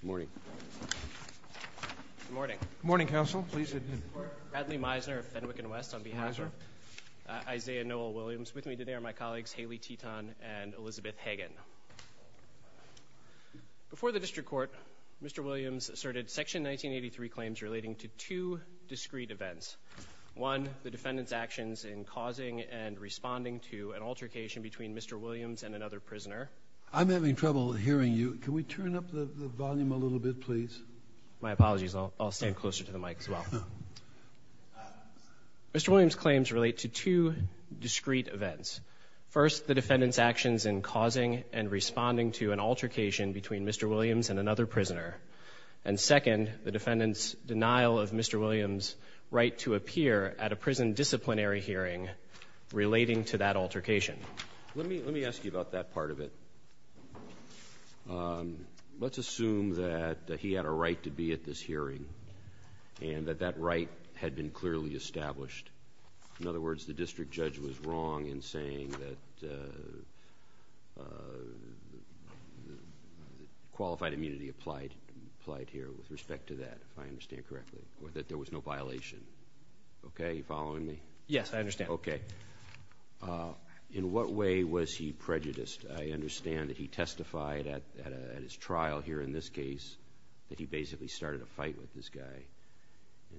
Good morning. Good morning. Good morning, counsel. Pleased to meet you. Bradley Meisner of Fenwick and West on behalf of Isaiah Noel Williams. With me today are my colleagues Haley Teton and Elizabeth Hagen. Before the district court, Mr. Williams asserted section 1983 claims relating to two discrete events. One, the defendant's actions in causing and responding to an altercation between Mr. Williams and another prisoner. I'm having trouble hearing you. Can we turn up the volume a little bit, please? My apologies. I'll stand closer to the mic as well. Mr. Williams claims relate to two discrete events. First, the defendant's actions in causing and responding to an altercation between Mr. Williams and another prisoner. And second, the defendant's denial of Mr. Williams' right to appear at a prison disciplinary hearing relating to that altercation. Let me ask you about that part of it. Let's assume that he had a right to be at this hearing and that that right had been clearly established. In other words, the district judge was wrong in saying that qualified immunity applied. With respect to that, if I understand correctly, that there was no violation. Okay, are you following me? Yes, I understand. Okay. In what way was he prejudiced? I understand that he testified at his trial here in this case that he basically started a fight with this guy.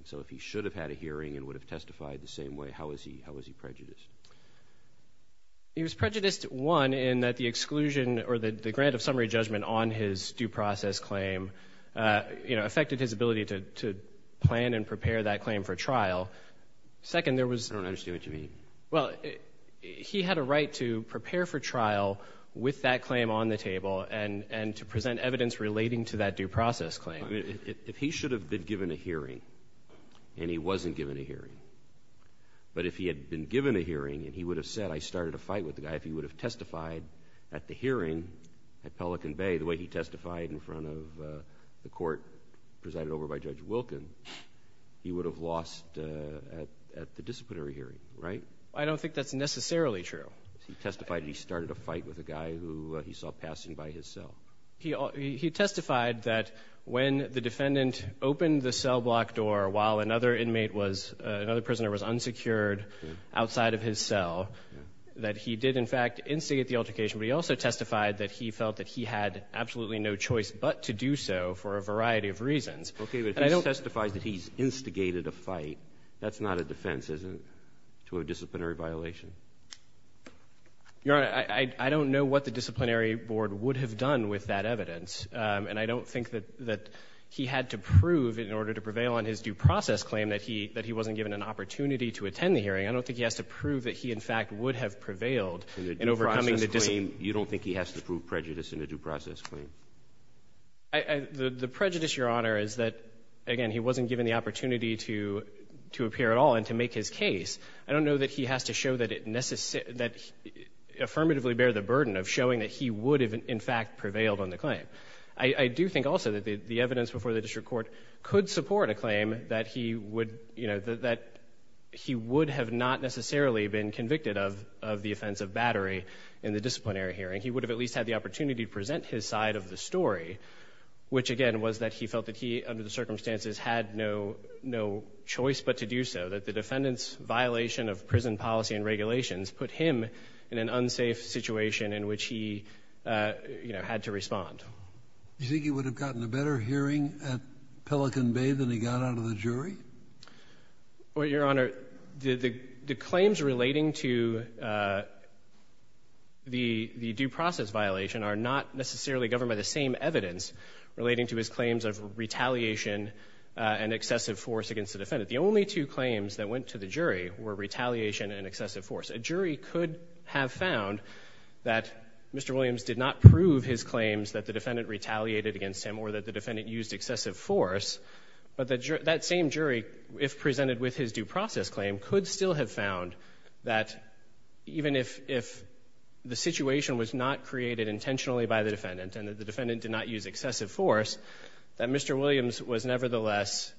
So if he should have had a hearing and would have testified the same way, how was he prejudiced? He was prejudiced, one, in that the exclusion or the grant of summary judgment on his due process claim affected his ability to plan and prepare that claim for trial. Second, there was... I don't understand what you mean. Well, he had a right to prepare for trial with that claim on the table and to present evidence relating to that due process claim. If he should have been given a hearing and he wasn't given a hearing, but if he had been given a hearing and he would have said, I started a fight with the guy, if he would have testified at the hearing at Pelican Bay, the way he testified in front of the court presided over by Judge Wilkin, he would have lost at the disciplinary hearing, right? I don't think that's necessarily true. He testified he started a fight with a guy who he saw passing by his cell. He testified that when the defendant opened the cell block door while another inmate was, another prisoner was unsecured outside of his cell, that he did in fact instigate the altercation, but he also testified that he felt that he had absolutely no choice but to do so for a variety of reasons. Okay, but if he testifies that he's instigated a fight, that's not a defense, is it, to a disciplinary violation? Your Honor, I don't know what the disciplinary board would have done with that evidence, and I don't think that he had to prove in order to prevail on his due process claim that he wasn't given an opportunity to attend the hearing. I don't think he has to prove that he in fact would have prevailed in overcoming the discipline. In a due process claim, you don't think he has to prove prejudice in a due process claim? The prejudice, Your Honor, is that, again, he wasn't given the opportunity to appear at all and to make his case. I don't know that he has to show that it necessarily, that he affirmatively bear the burden of showing that he would have in fact prevailed on the claim. I do think also that the evidence before the district court could support a claim that he would, you know, that he would have not necessarily been convicted of the offense of battery in the disciplinary hearing. He would have at least had the opportunity to present his side of the story, which again was that he felt that he, under the circumstances, had no choice but to do so, that the defendant's violation of prison policy and regulations put him in an unsafe situation in which he, you know, had to respond. Do you think he would have gotten a better hearing at Pelican Bay than he got out of the jury? Well, Your Honor, the claims relating to the due process violation are not necessarily governed by the same evidence relating to his claims of retaliation and excessive force against the defendant. The only two claims that went to the jury were retaliation and excessive force. A jury could have found that Mr. Williams did not prove his claims that the defendant retaliated against him or that the defendant used excessive force, but that same jury, if presented with his due process claim, could still have found that even if the situation was not created intentionally by the defendant and the defendant did not use excessive force, that Mr. Williams was nevertheless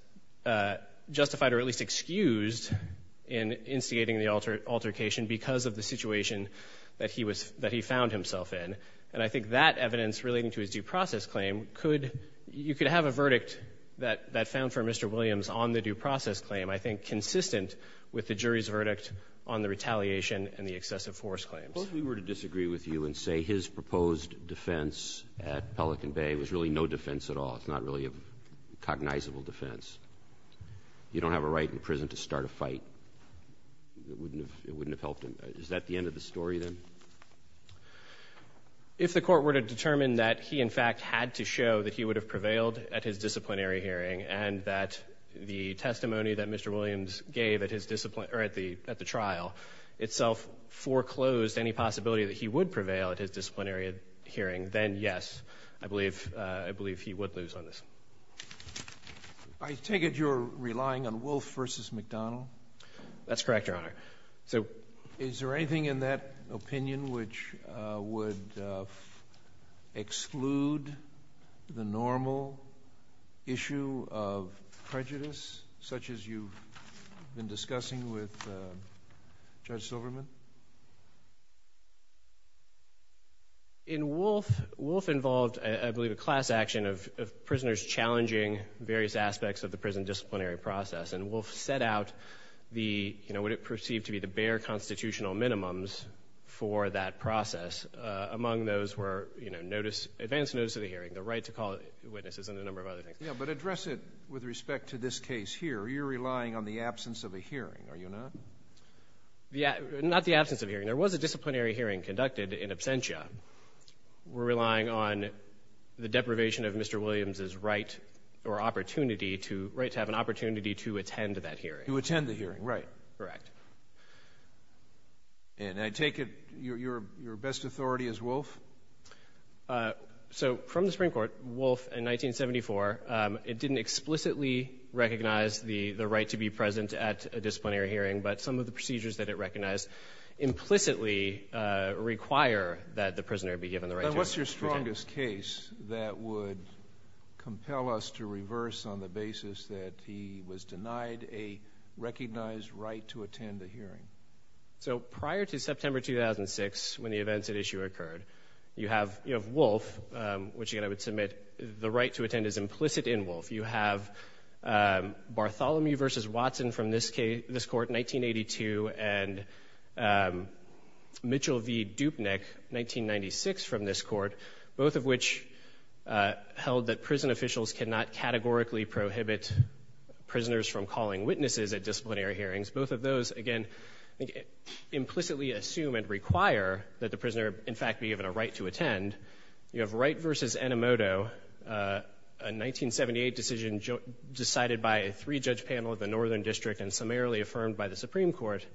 justified or at least excused in instigating the altercation because of the situation that he found himself in. And I think that evidence relating to his due process claim, you could have a verdict that found for Mr. Williams on the due process claim, I think, consistent with the jury's verdict on the retaliation and the excessive force claims. Suppose we were to disagree with you and say his proposed defense at Pelican Bay was really no defense at all. It's not really a cognizable defense. You don't have a right in prison to start a fight. It wouldn't have helped him. Is that the end of the story, then? If the court were to determine that he, in fact, had to show that he would have prevailed at his disciplinary hearing and that the testimony that Mr. Williams gave at the trial itself foreclosed any possibility that he would prevail at his disciplinary hearing, then yes, I believe he would lose on this. I take it you're relying on Wolf v. McDonald? That's correct, Your Honor. Is there anything in that opinion which would exclude the normal issue of prejudice, such as you've been discussing with Judge Silverman? In Wolf, Wolf involved, I believe, a class action of prisoners challenging various aspects of the prison disciplinary process, and Wolf set out what it perceived to be the bare constitutional minimums for that process. Among those were advance notice of the hearing, the right to call witnesses, and a number of other things. But address it with respect to this case here. You're relying on the absence of a hearing, are you not? Not the absence of a hearing. There was a disciplinary hearing conducted in absentia. We're relying on the deprivation of Mr. Williams' right or opportunity to, right to have an opportunity to attend that hearing. To attend the hearing, right. Correct. And I take it your best authority is Wolf? So from the Supreme Court, Wolf, in 1974, it didn't explicitly recognize the right to be present at a disciplinary hearing, but some of the procedures that it recognized implicitly require that the prisoner be given the right to be present. And what's your strongest case that would compel us to reverse on the basis that he was denied a recognized right to attend a hearing? So prior to September 2006, when the events at issue occurred, you have Wolf, which again I would submit the right to attend is implicit in Wolf. You have Bartholomew v. Watson from this court, 1982, and Mitchell v. Dupnick, 1996, from this court, both of which held that prison officials cannot categorically prohibit prisoners from calling witnesses at disciplinary hearings. Both of those, again, implicitly assume and require that the prisoner, in fact, be given a right to attend. You have Wright v. Enomoto, a 1978 decision decided by a three-judge panel of the Northern District and summarily affirmed by the Supreme Court,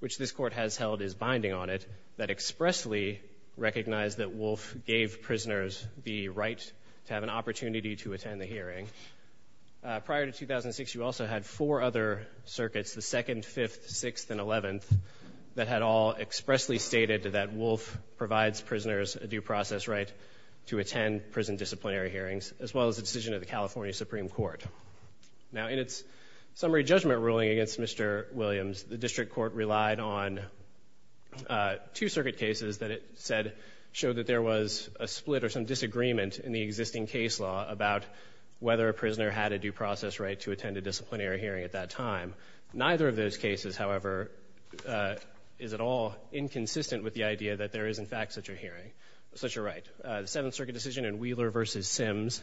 which this court has held is binding on it, that expressly recognized that Wolf gave prisoners the right to have an opportunity to attend the hearing. Prior to 2006, you also had four other circuits, the Second, Fifth, Sixth, and Eleventh, that had all expressly stated that Wolf provides prisoners a due process right to attend prison disciplinary hearings, as well as the decision of the California Supreme Court. Now, in its summary judgment ruling against Mr. Williams, the District Court relied on two circuit cases that it said showed that there was a split or some disagreement in the existing case law about whether a prisoner had a due process right to attend a disciplinary hearing at that time. Neither of those cases, however, is at all inconsistent with the idea that there is, in fact, such a hearing, such a right. The Seventh Circuit decision in Wheeler v. Sims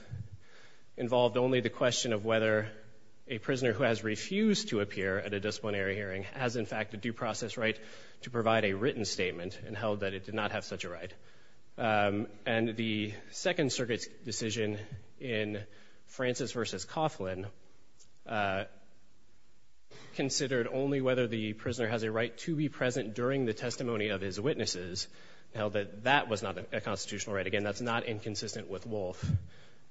involved only the question of whether a prisoner who has refused to appear at a disciplinary hearing has, in fact, a due process right to provide a written statement and held that it did not have such a right. And the Second Circuit's decision in Francis v. Coughlin considered only whether the prisoner has a right to be present during the testimony of his witnesses, held that that was not a constitutional right. Again, that's not inconsistent with Wolfe,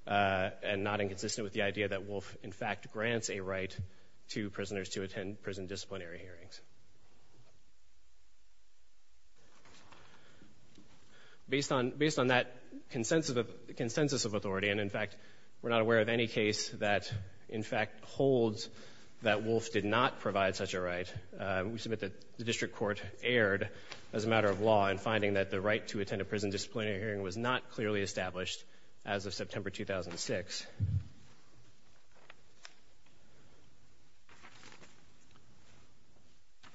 and not inconsistent with the idea that Wolfe, in fact, grants a right to prisoners to attend prison disciplinary hearings. Based on that consensus of authority, and in fact, we're not aware of any case that, in fact, holds that Wolfe did not provide such a right, we submit that the District Court erred as a matter of law in finding that the right to attend a prison disciplinary hearing was not clearly established as of September 2006.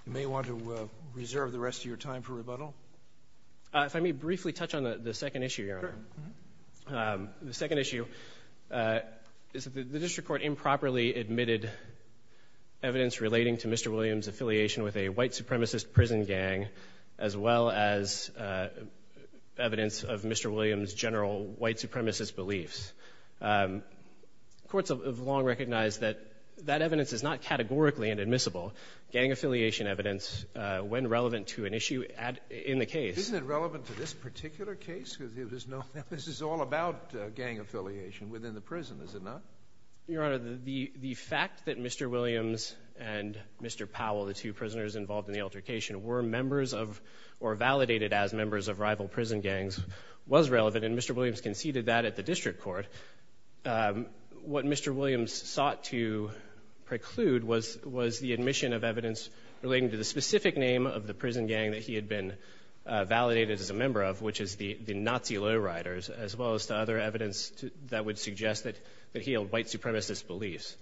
You may want to reserve the rest of your time for rebuttal. If I may briefly touch on the second issue, Your Honor. The second issue is that the District Court improperly admitted evidence relating to Mr. Williams' prison gang, as well as evidence of Mr. Williams' general white supremacist beliefs. Courts have long recognized that that evidence is not categorically inadmissible. Gang affiliation evidence, when relevant to an issue in the case— Isn't it relevant to this particular case? This is all about gang affiliation within the prison, is it not? Your Honor, the fact that Mr. Williams and Mr. Powell, the two prisoners involved in the altercation, were members of or validated as members of rival prison gangs was relevant, and Mr. Williams conceded that at the District Court. What Mr. Williams sought to preclude was the admission of evidence relating to the specific name of the prison gang that he had been validated as a member of, which is the Nazi Lowriders, as well as the other evidence that would suggest that he held white supremacist beliefs.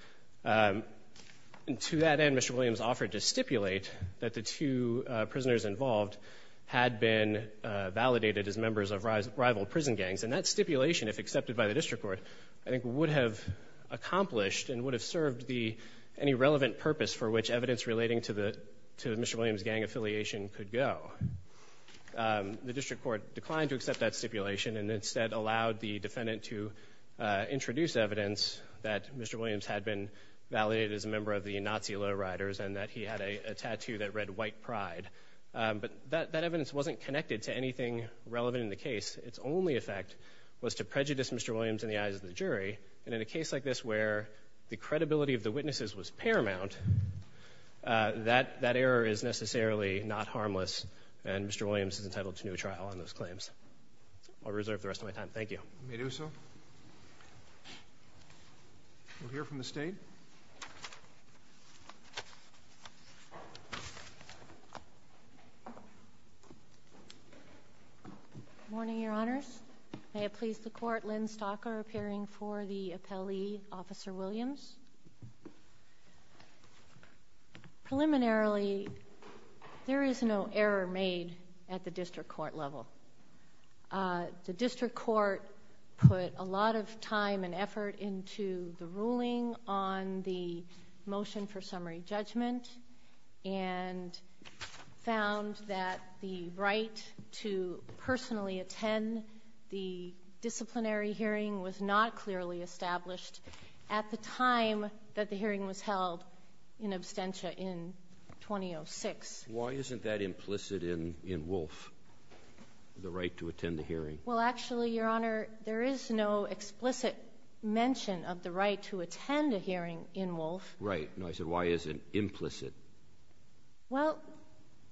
To that end, Mr. Williams offered to stipulate that the two prisoners involved had been validated as members of rival prison gangs, and that stipulation, if accepted by the District Court, I think would have accomplished and would have served any relevant purpose for which evidence relating to Mr. Williams' gang affiliation could go. The District Court declined to accept that stipulation and instead allowed the defendant to introduce evidence that Mr. Williams had been validated as a member of the Nazi Lowriders and that he had a tattoo that read, White Pride, but that evidence wasn't connected to anything relevant in the case. Its only effect was to prejudice Mr. Williams in the eyes of the jury, and in a case like this where the credibility of the witnesses was paramount, that error is necessarily not harmless and Mr. Williams is entitled to no trial on those claims. I'll reserve the rest of my time. Thank you. You may do so. We'll hear from the State. Good morning, Your Honors. May it please the Court, Lynn Stocker appearing for the appellee, Officer Williams. Preliminarily, there is no error made at the District Court level. The District Court put a lot of time and effort into the ruling on the motion for summary judgment and found that the right to personally attend the disciplinary hearing was not clearly established at the time that the hearing was held in absentia in 2006. Why isn't that implicit in Wolfe, the right to attend the hearing? Well, actually, Your Honor, there is no explicit mention of the right to attend a hearing in Wolfe. Right. I said, why is it implicit? Well,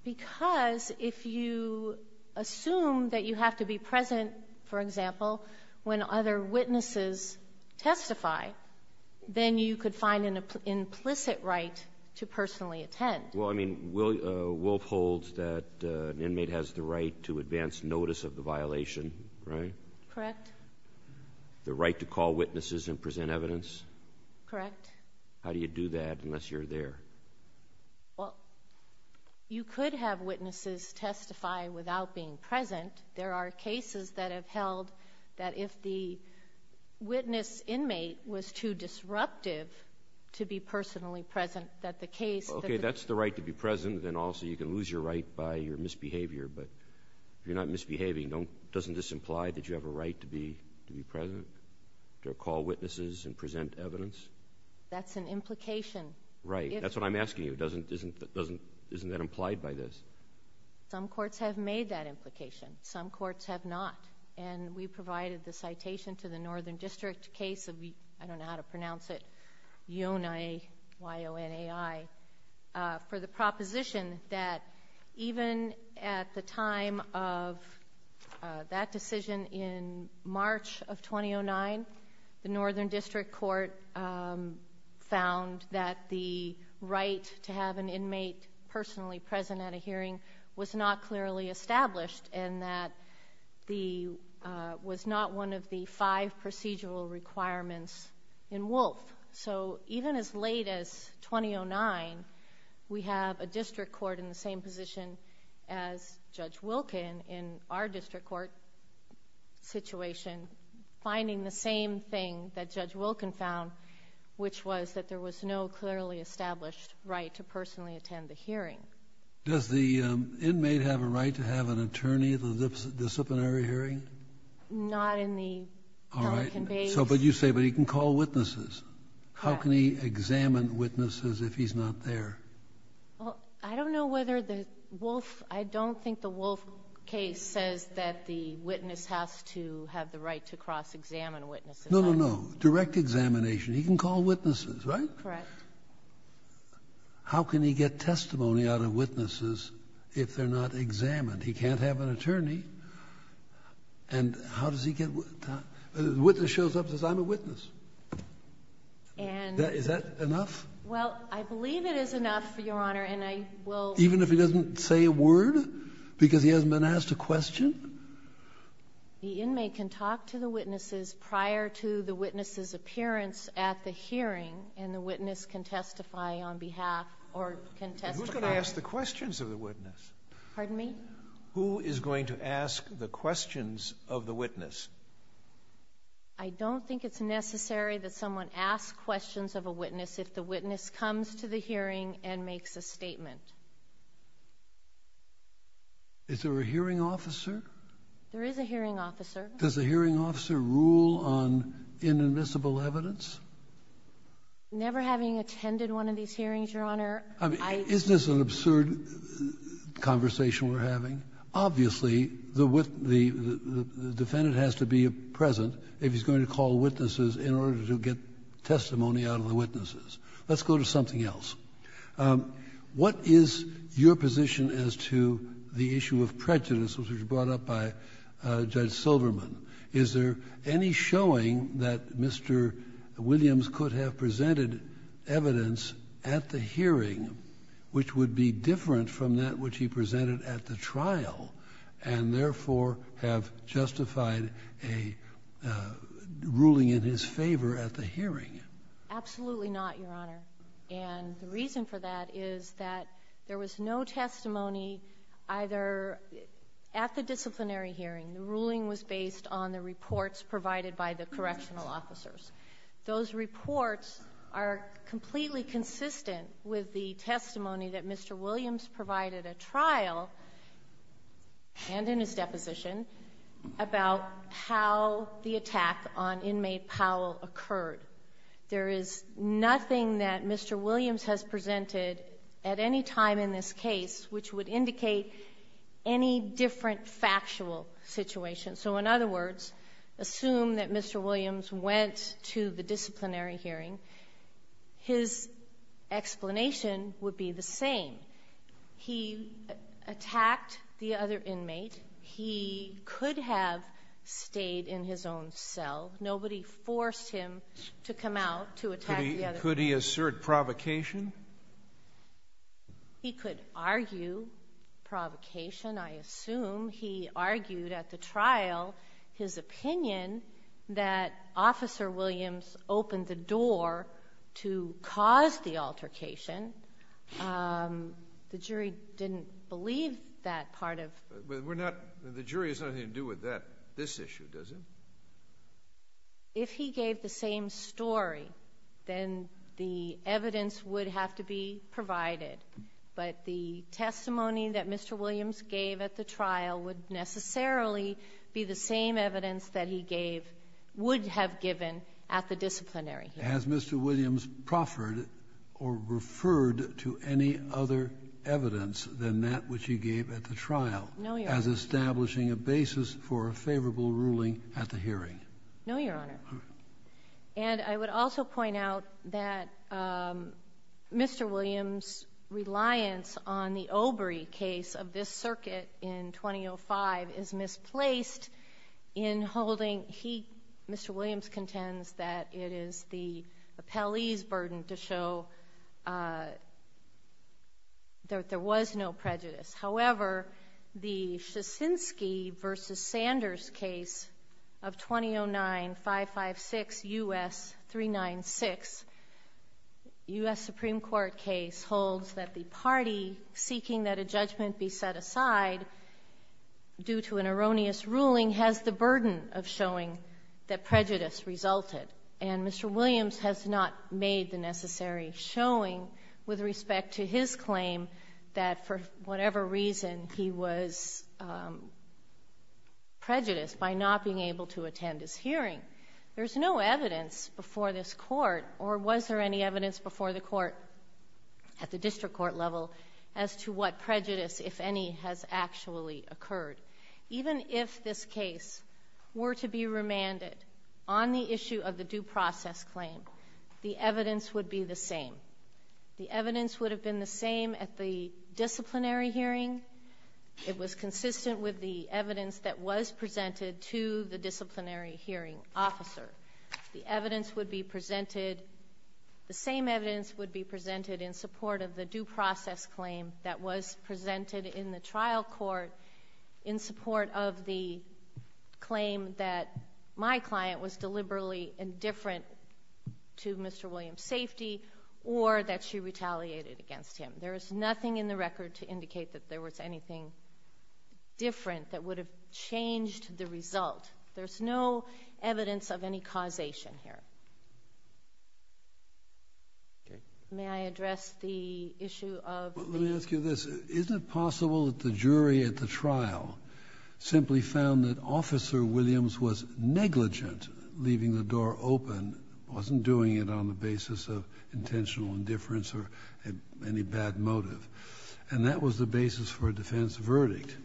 because if you assume that you have to be present, for example, when other witnesses testify, then you could find an implicit right to personally attend. Well, I mean, Wolfe holds that an inmate has the right to advance notice of the violation, right? Correct. The right to call witnesses and present evidence? Correct. How do you do that unless you're there? Well, you could have witnesses testify without being present. There are cases that have held that if the witness inmate was too disruptive to be personally present that the case... Okay. That's the right to be present, then also you can lose your right by your misbehavior. But if you're not misbehaving, doesn't this imply that you have a right to be present to call witnesses and present evidence? That's an implication. Right. That's what I'm asking you. Isn't that implied by this? Some courts have made that implication. Some courts have not. And we provided the citation to the Northern District case of, I don't know how to pronounce it, Yonai, Y-O-N-A-I, for the proposition that even at the time of that decision in March of 2009, the Northern District Court found that the right to have an inmate personally present at a hearing was not clearly established and that the... was not one of the five procedural requirements in Wolf. So even as late as 2009, we have a district court in the same position as Judge Wilkin in our district court situation, finding the same thing that Judge Wilkin found, which was that there was no clearly established right to personally attend the hearing. Does the inmate have a right to have an attorney at the disciplinary hearing? Not in the Pelican case. All right. But you say he can call witnesses. How can he examine witnesses if he's not there? Well, I don't know whether the Wolf... I don't think the Wolf case says that the witness has to have the right to cross-examine witnesses. No, no, no. Direct examination. He can call witnesses, right? Correct. How can he get testimony out of witnesses if they're not examined? He can't have an attorney. And how does he get... the witness shows up and says, I'm a witness. And... Is that enough? Well, I believe it is enough, Your Honor, and I will... Even if he doesn't say a word because he hasn't been asked a question? The inmate can talk to the witnesses prior to the witness's appearance at the hearing and the witness can testify on behalf or can testify... Who's going to ask the questions of the witness? Pardon me? Who is going to ask the questions of the witness? I don't think it's necessary that someone ask questions of a witness if the witness comes to the hearing and makes a statement. Is there a hearing officer? There is a hearing officer. Does the hearing officer rule on inadmissible evidence? Never having attended one of these hearings, Your Honor, I... Isn't this an absurd conversation we're having? Obviously, the defendant has to be present if he's going to call witnesses in order to get testimony out of the witnesses. Let's go to something else. What is your position as to the issue of prejudice which was brought up by Judge Silverman? Is there any showing that Mr. Williams could have presented evidence at the hearing which would be different from that which he presented at the trial and therefore have justified a ruling in his favor at the hearing? Absolutely not, Your Honor. The reason for that is that there was no testimony either... At the disciplinary hearing, the ruling was based on the reports provided by the correctional officers. Those reports are completely consistent with the testimony that Mr. Williams provided at trial and in his deposition about how the attack on inmate Powell occurred. There is nothing that Mr. Williams has presented at any time in this case which would indicate any different factual situation. So, in other words, assume that Mr. Williams went to the disciplinary hearing, his explanation would be the same. He attacked the other inmate. He could have stayed in his own cell. Nobody forced him to come out to attack the other inmate. Could he assert provocation? He could argue provocation, I assume. He argued at the trial his opinion that Officer Williams opened the door to cause the altercation. The jury didn't believe that part of... The jury has nothing to do with this issue, does it? If he gave the same story, then the evidence would have to be provided. But the testimony that Mr. Williams gave at the trial would necessarily be the same evidence that he would have given at the disciplinary hearing. Has Mr. Williams proffered or referred to any other evidence than that which he gave at the trial? No, Your Honor. As establishing a basis for a favorable ruling at the hearing? No, Your Honor. And I would also point out that Mr. Williams' reliance on the Obrey case of this circuit in 2005 is misplaced in holding... Mr. Williams contends that it is the appellee's burden to show that there was no prejudice. However, the Shosinski v. Sanders case of 2009, 556 U.S. 396 U.S. Supreme Court case holds that the party seeking that a judgment be set aside due to an erroneous ruling has the burden of showing that prejudice resulted. And Mr. Williams has not made the necessary showing with respect to his claim that for whatever reason he was prejudiced by not being able to attend his hearing. There's no evidence before this court, or was there any evidence before the court at the district court level, as to what prejudice, if any, has actually occurred. Even if this case were to be remanded on the issue of the due process claim, the evidence would be the same. The evidence would have been the same at the disciplinary hearing. It was consistent with the evidence that was presented to the disciplinary hearing officer. The evidence would be presented... The same evidence would be presented in support of the due process claim that was presented in the trial court in support of the claim that my client was deliberately indifferent to Mr. Williams' safety, or that she retaliated against him. There is nothing in the record to indicate that there was anything different that would have changed the result. There's no evidence of any causation here. May I address the issue of... The trial simply found that Officer Williams was negligent leaving the door open, wasn't doing it on the basis of intentional indifference or any bad motive. And that was the basis for a defense verdict.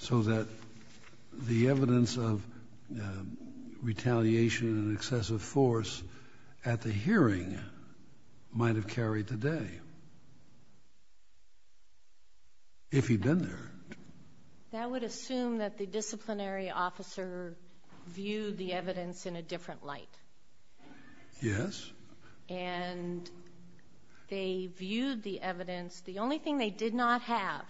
So that the evidence of retaliation and excessive force at the hearing might have carried the day. If he'd been there. That would assume that the disciplinary officer viewed the evidence in a different light. Yes. And they viewed the evidence... The only thing they did not have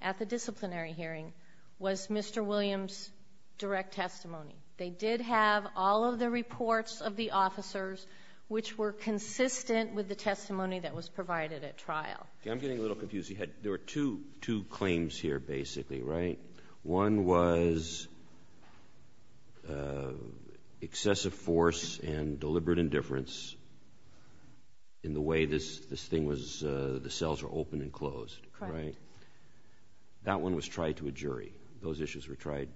at the disciplinary hearing was Mr. Williams' direct testimony. They did have all of the reports of the officers which were consistent with the testimony that was provided at trial. I'm getting a little confused. There were two claims here, basically, right? One was excessive force and deliberate indifference in the way this thing was... the cells were open and closed. Correct. That one was tried to a jury. Those issues were tried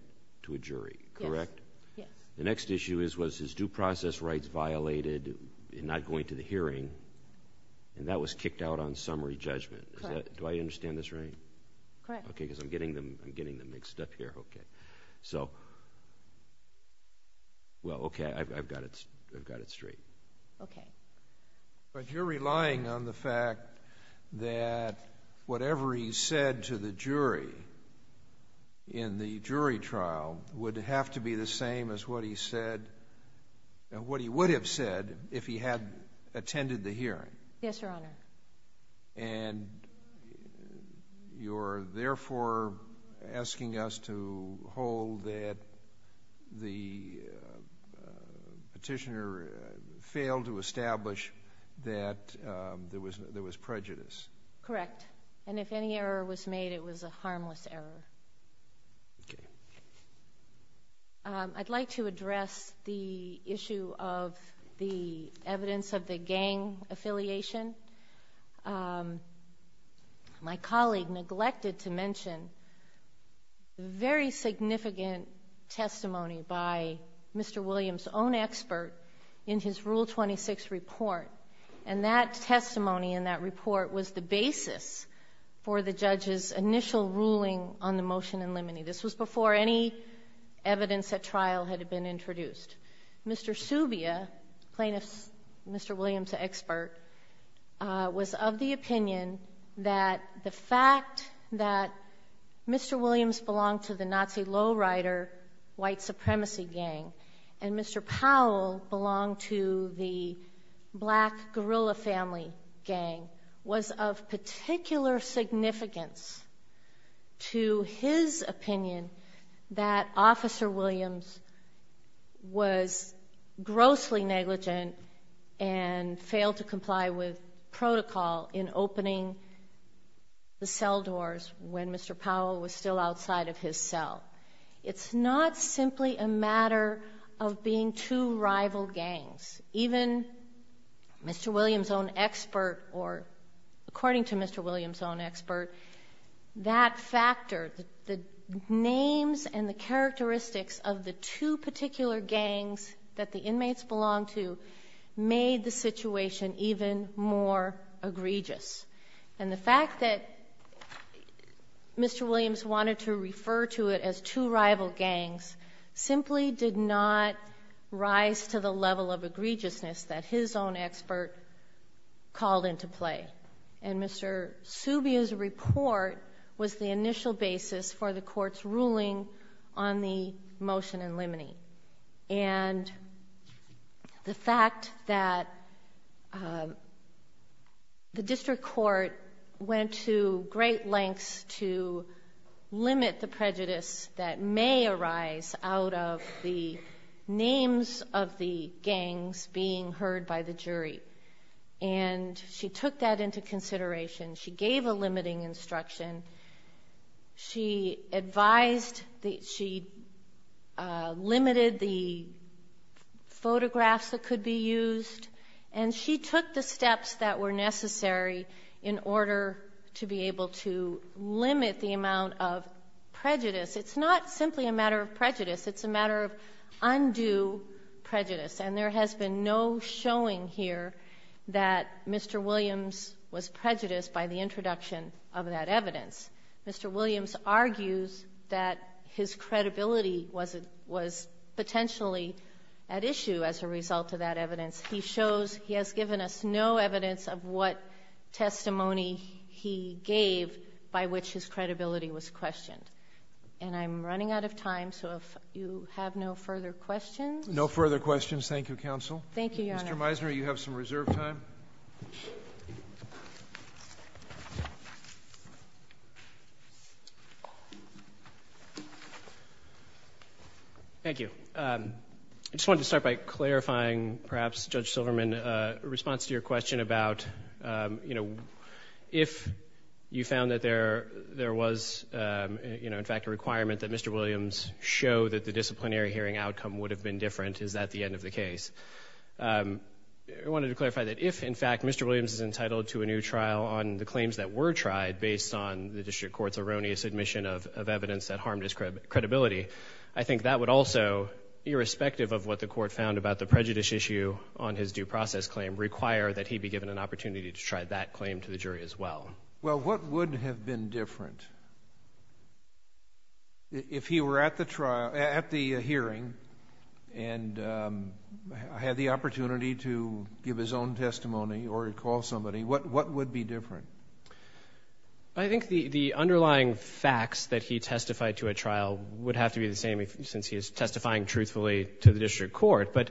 to a jury, correct? Yes. The next issue was his due process rights violated in not going to the hearing. And that was kicked out on summary judgment. Correct. Do I understand this right? Correct. Okay, because I'm getting them mixed up here. Okay. So... Well, okay, I've got it straight. Okay. But you're relying on the fact that whatever he said to the jury in the jury trial would have to be the same as what he said... what he would have said if he had attended the hearing. Yes, Your Honor. And you're therefore asking us to hold that the petitioner failed to establish that there was prejudice. Correct. And if any error was made, it was a harmless error. Okay. I'd like to address the issue of the evidence of the gang affiliation. My colleague neglected to mention very significant testimony by Mr. Williams' own expert in his Rule 26 report. And that testimony in that report was the basis for the judge's initial ruling on the motion in limine. This was before any evidence at trial had been introduced. Mr. Subia, plaintiff's Mr. Williams' expert, was of the opinion that the fact that Mr. Williams belonged to the Nazi lowrider white supremacy gang and Mr. Powell belonged to the black guerrilla family gang was of particular significance to his opinion that Officer Williams was grossly negligent and failed to comply with protocol in opening the cell doors when Mr. Powell was still outside of his cell. It's not simply a matter of being two rival gangs. Even Mr. Williams' own expert, or according to Mr. Williams' own expert, that factor, the names and the characteristics of the two particular gangs that the inmates belonged to, made the situation even more egregious. And the fact that Mr. Williams wanted to refer to it as two rival gangs, simply did not rise to the level of egregiousness that his own expert called into play. And Mr. Subia's report was the initial basis for the court's ruling on the motion in limine. And the fact that the district court went to great lengths to limit the prejudice that may arise out of the names of the gangs being heard by the jury. And she took that into consideration. She gave a limiting instruction. She advised, she limited the photographs that could be used. And she took the steps that were necessary in order to be able to limit the amount of prejudice. It's not simply a matter of prejudice. It's a matter of undue prejudice. And there has been no showing here that Mr. Williams was prejudiced by the introduction of that evidence. Mr. Williams argues that his credibility was potentially at issue as a result of that evidence. He shows, he has given us no evidence of what testimony he gave by which his credibility was questioned. And I'm running out of time, so if you have no further questions... No further questions, thank you, counsel. Thank you, Your Honor. Mr. Meisner, you have some reserved time. Thank you. I just wanted to start by clarifying, perhaps, Judge Silverman, a response to your question about, you know, if you found that there was, you know, in fact, a requirement that Mr. Williams show that the disciplinary hearing outcome would have been different, is that the end of the case? I wanted to clarify that if, in fact, Mr. Williams is entitled to a new trial on the claims that were tried based on the district court's erroneous admission of evidence that harmed his credibility, I think that would also, irrespective of what the court found about the prejudice issue on his due process claim, require that he be given an opportunity to try that claim to the jury as well. Well, what would have been different? If he were at the hearing and had the opportunity to give his own testimony or call somebody, what would be different? I think the underlying facts that he testified to at trial would have to be the same since he is testifying truthfully to the district court, but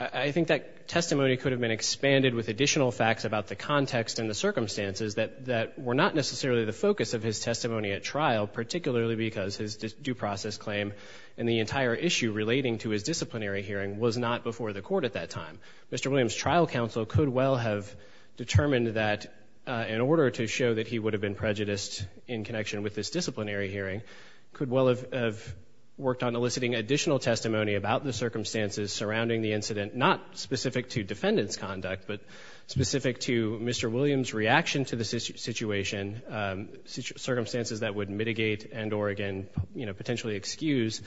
I think that testimony could have been expanded with additional facts about the context and the circumstances that were not necessarily the focus of his testimony at trial, particularly because his due process claim and the entire issue relating to his disciplinary hearing was not before the court at that time. Mr. Williams' trial counsel could well have determined that in order to show that he would have been prejudiced in connection with this disciplinary hearing, could well have worked on eliciting additional testimony about the circumstances surrounding the incident, not specific to defendant's conduct, but specific to Mr. Williams' reaction to the situation, circumstances that would mitigate and or, again, potentially excuse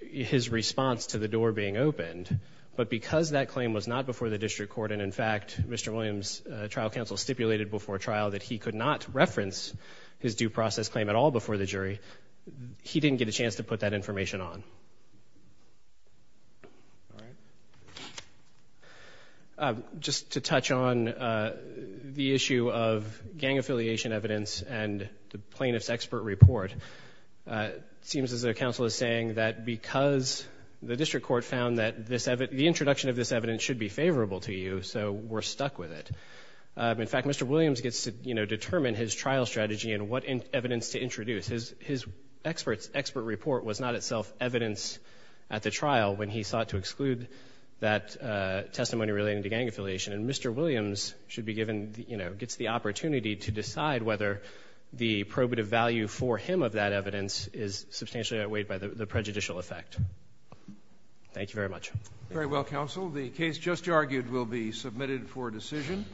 his response to the door being opened. But because that claim was not before the district court, and in fact, Mr. Williams' trial counsel stipulated before trial that he could not reference his due process claim at all before the jury, he didn't get a chance to put that information on. Just to touch on the issue of gang affiliation evidence and the plaintiff's expert report, it seems as though counsel is saying that because the district court found that the introduction of this evidence should be favorable to you, so we're stuck with it. In fact, Mr. Williams gets to, you know, determine his trial strategy and what evidence to introduce. His expert report was not itself evidence at the trial when he sought to exclude that testimony relating to gang affiliation. And Mr. Williams should be given, you know, gets the opportunity to decide whether the probative value for him of that evidence is substantially outweighed by the prejudicial effect. Thank you very much. Very well, counsel. The case just argued will be submitted for decision.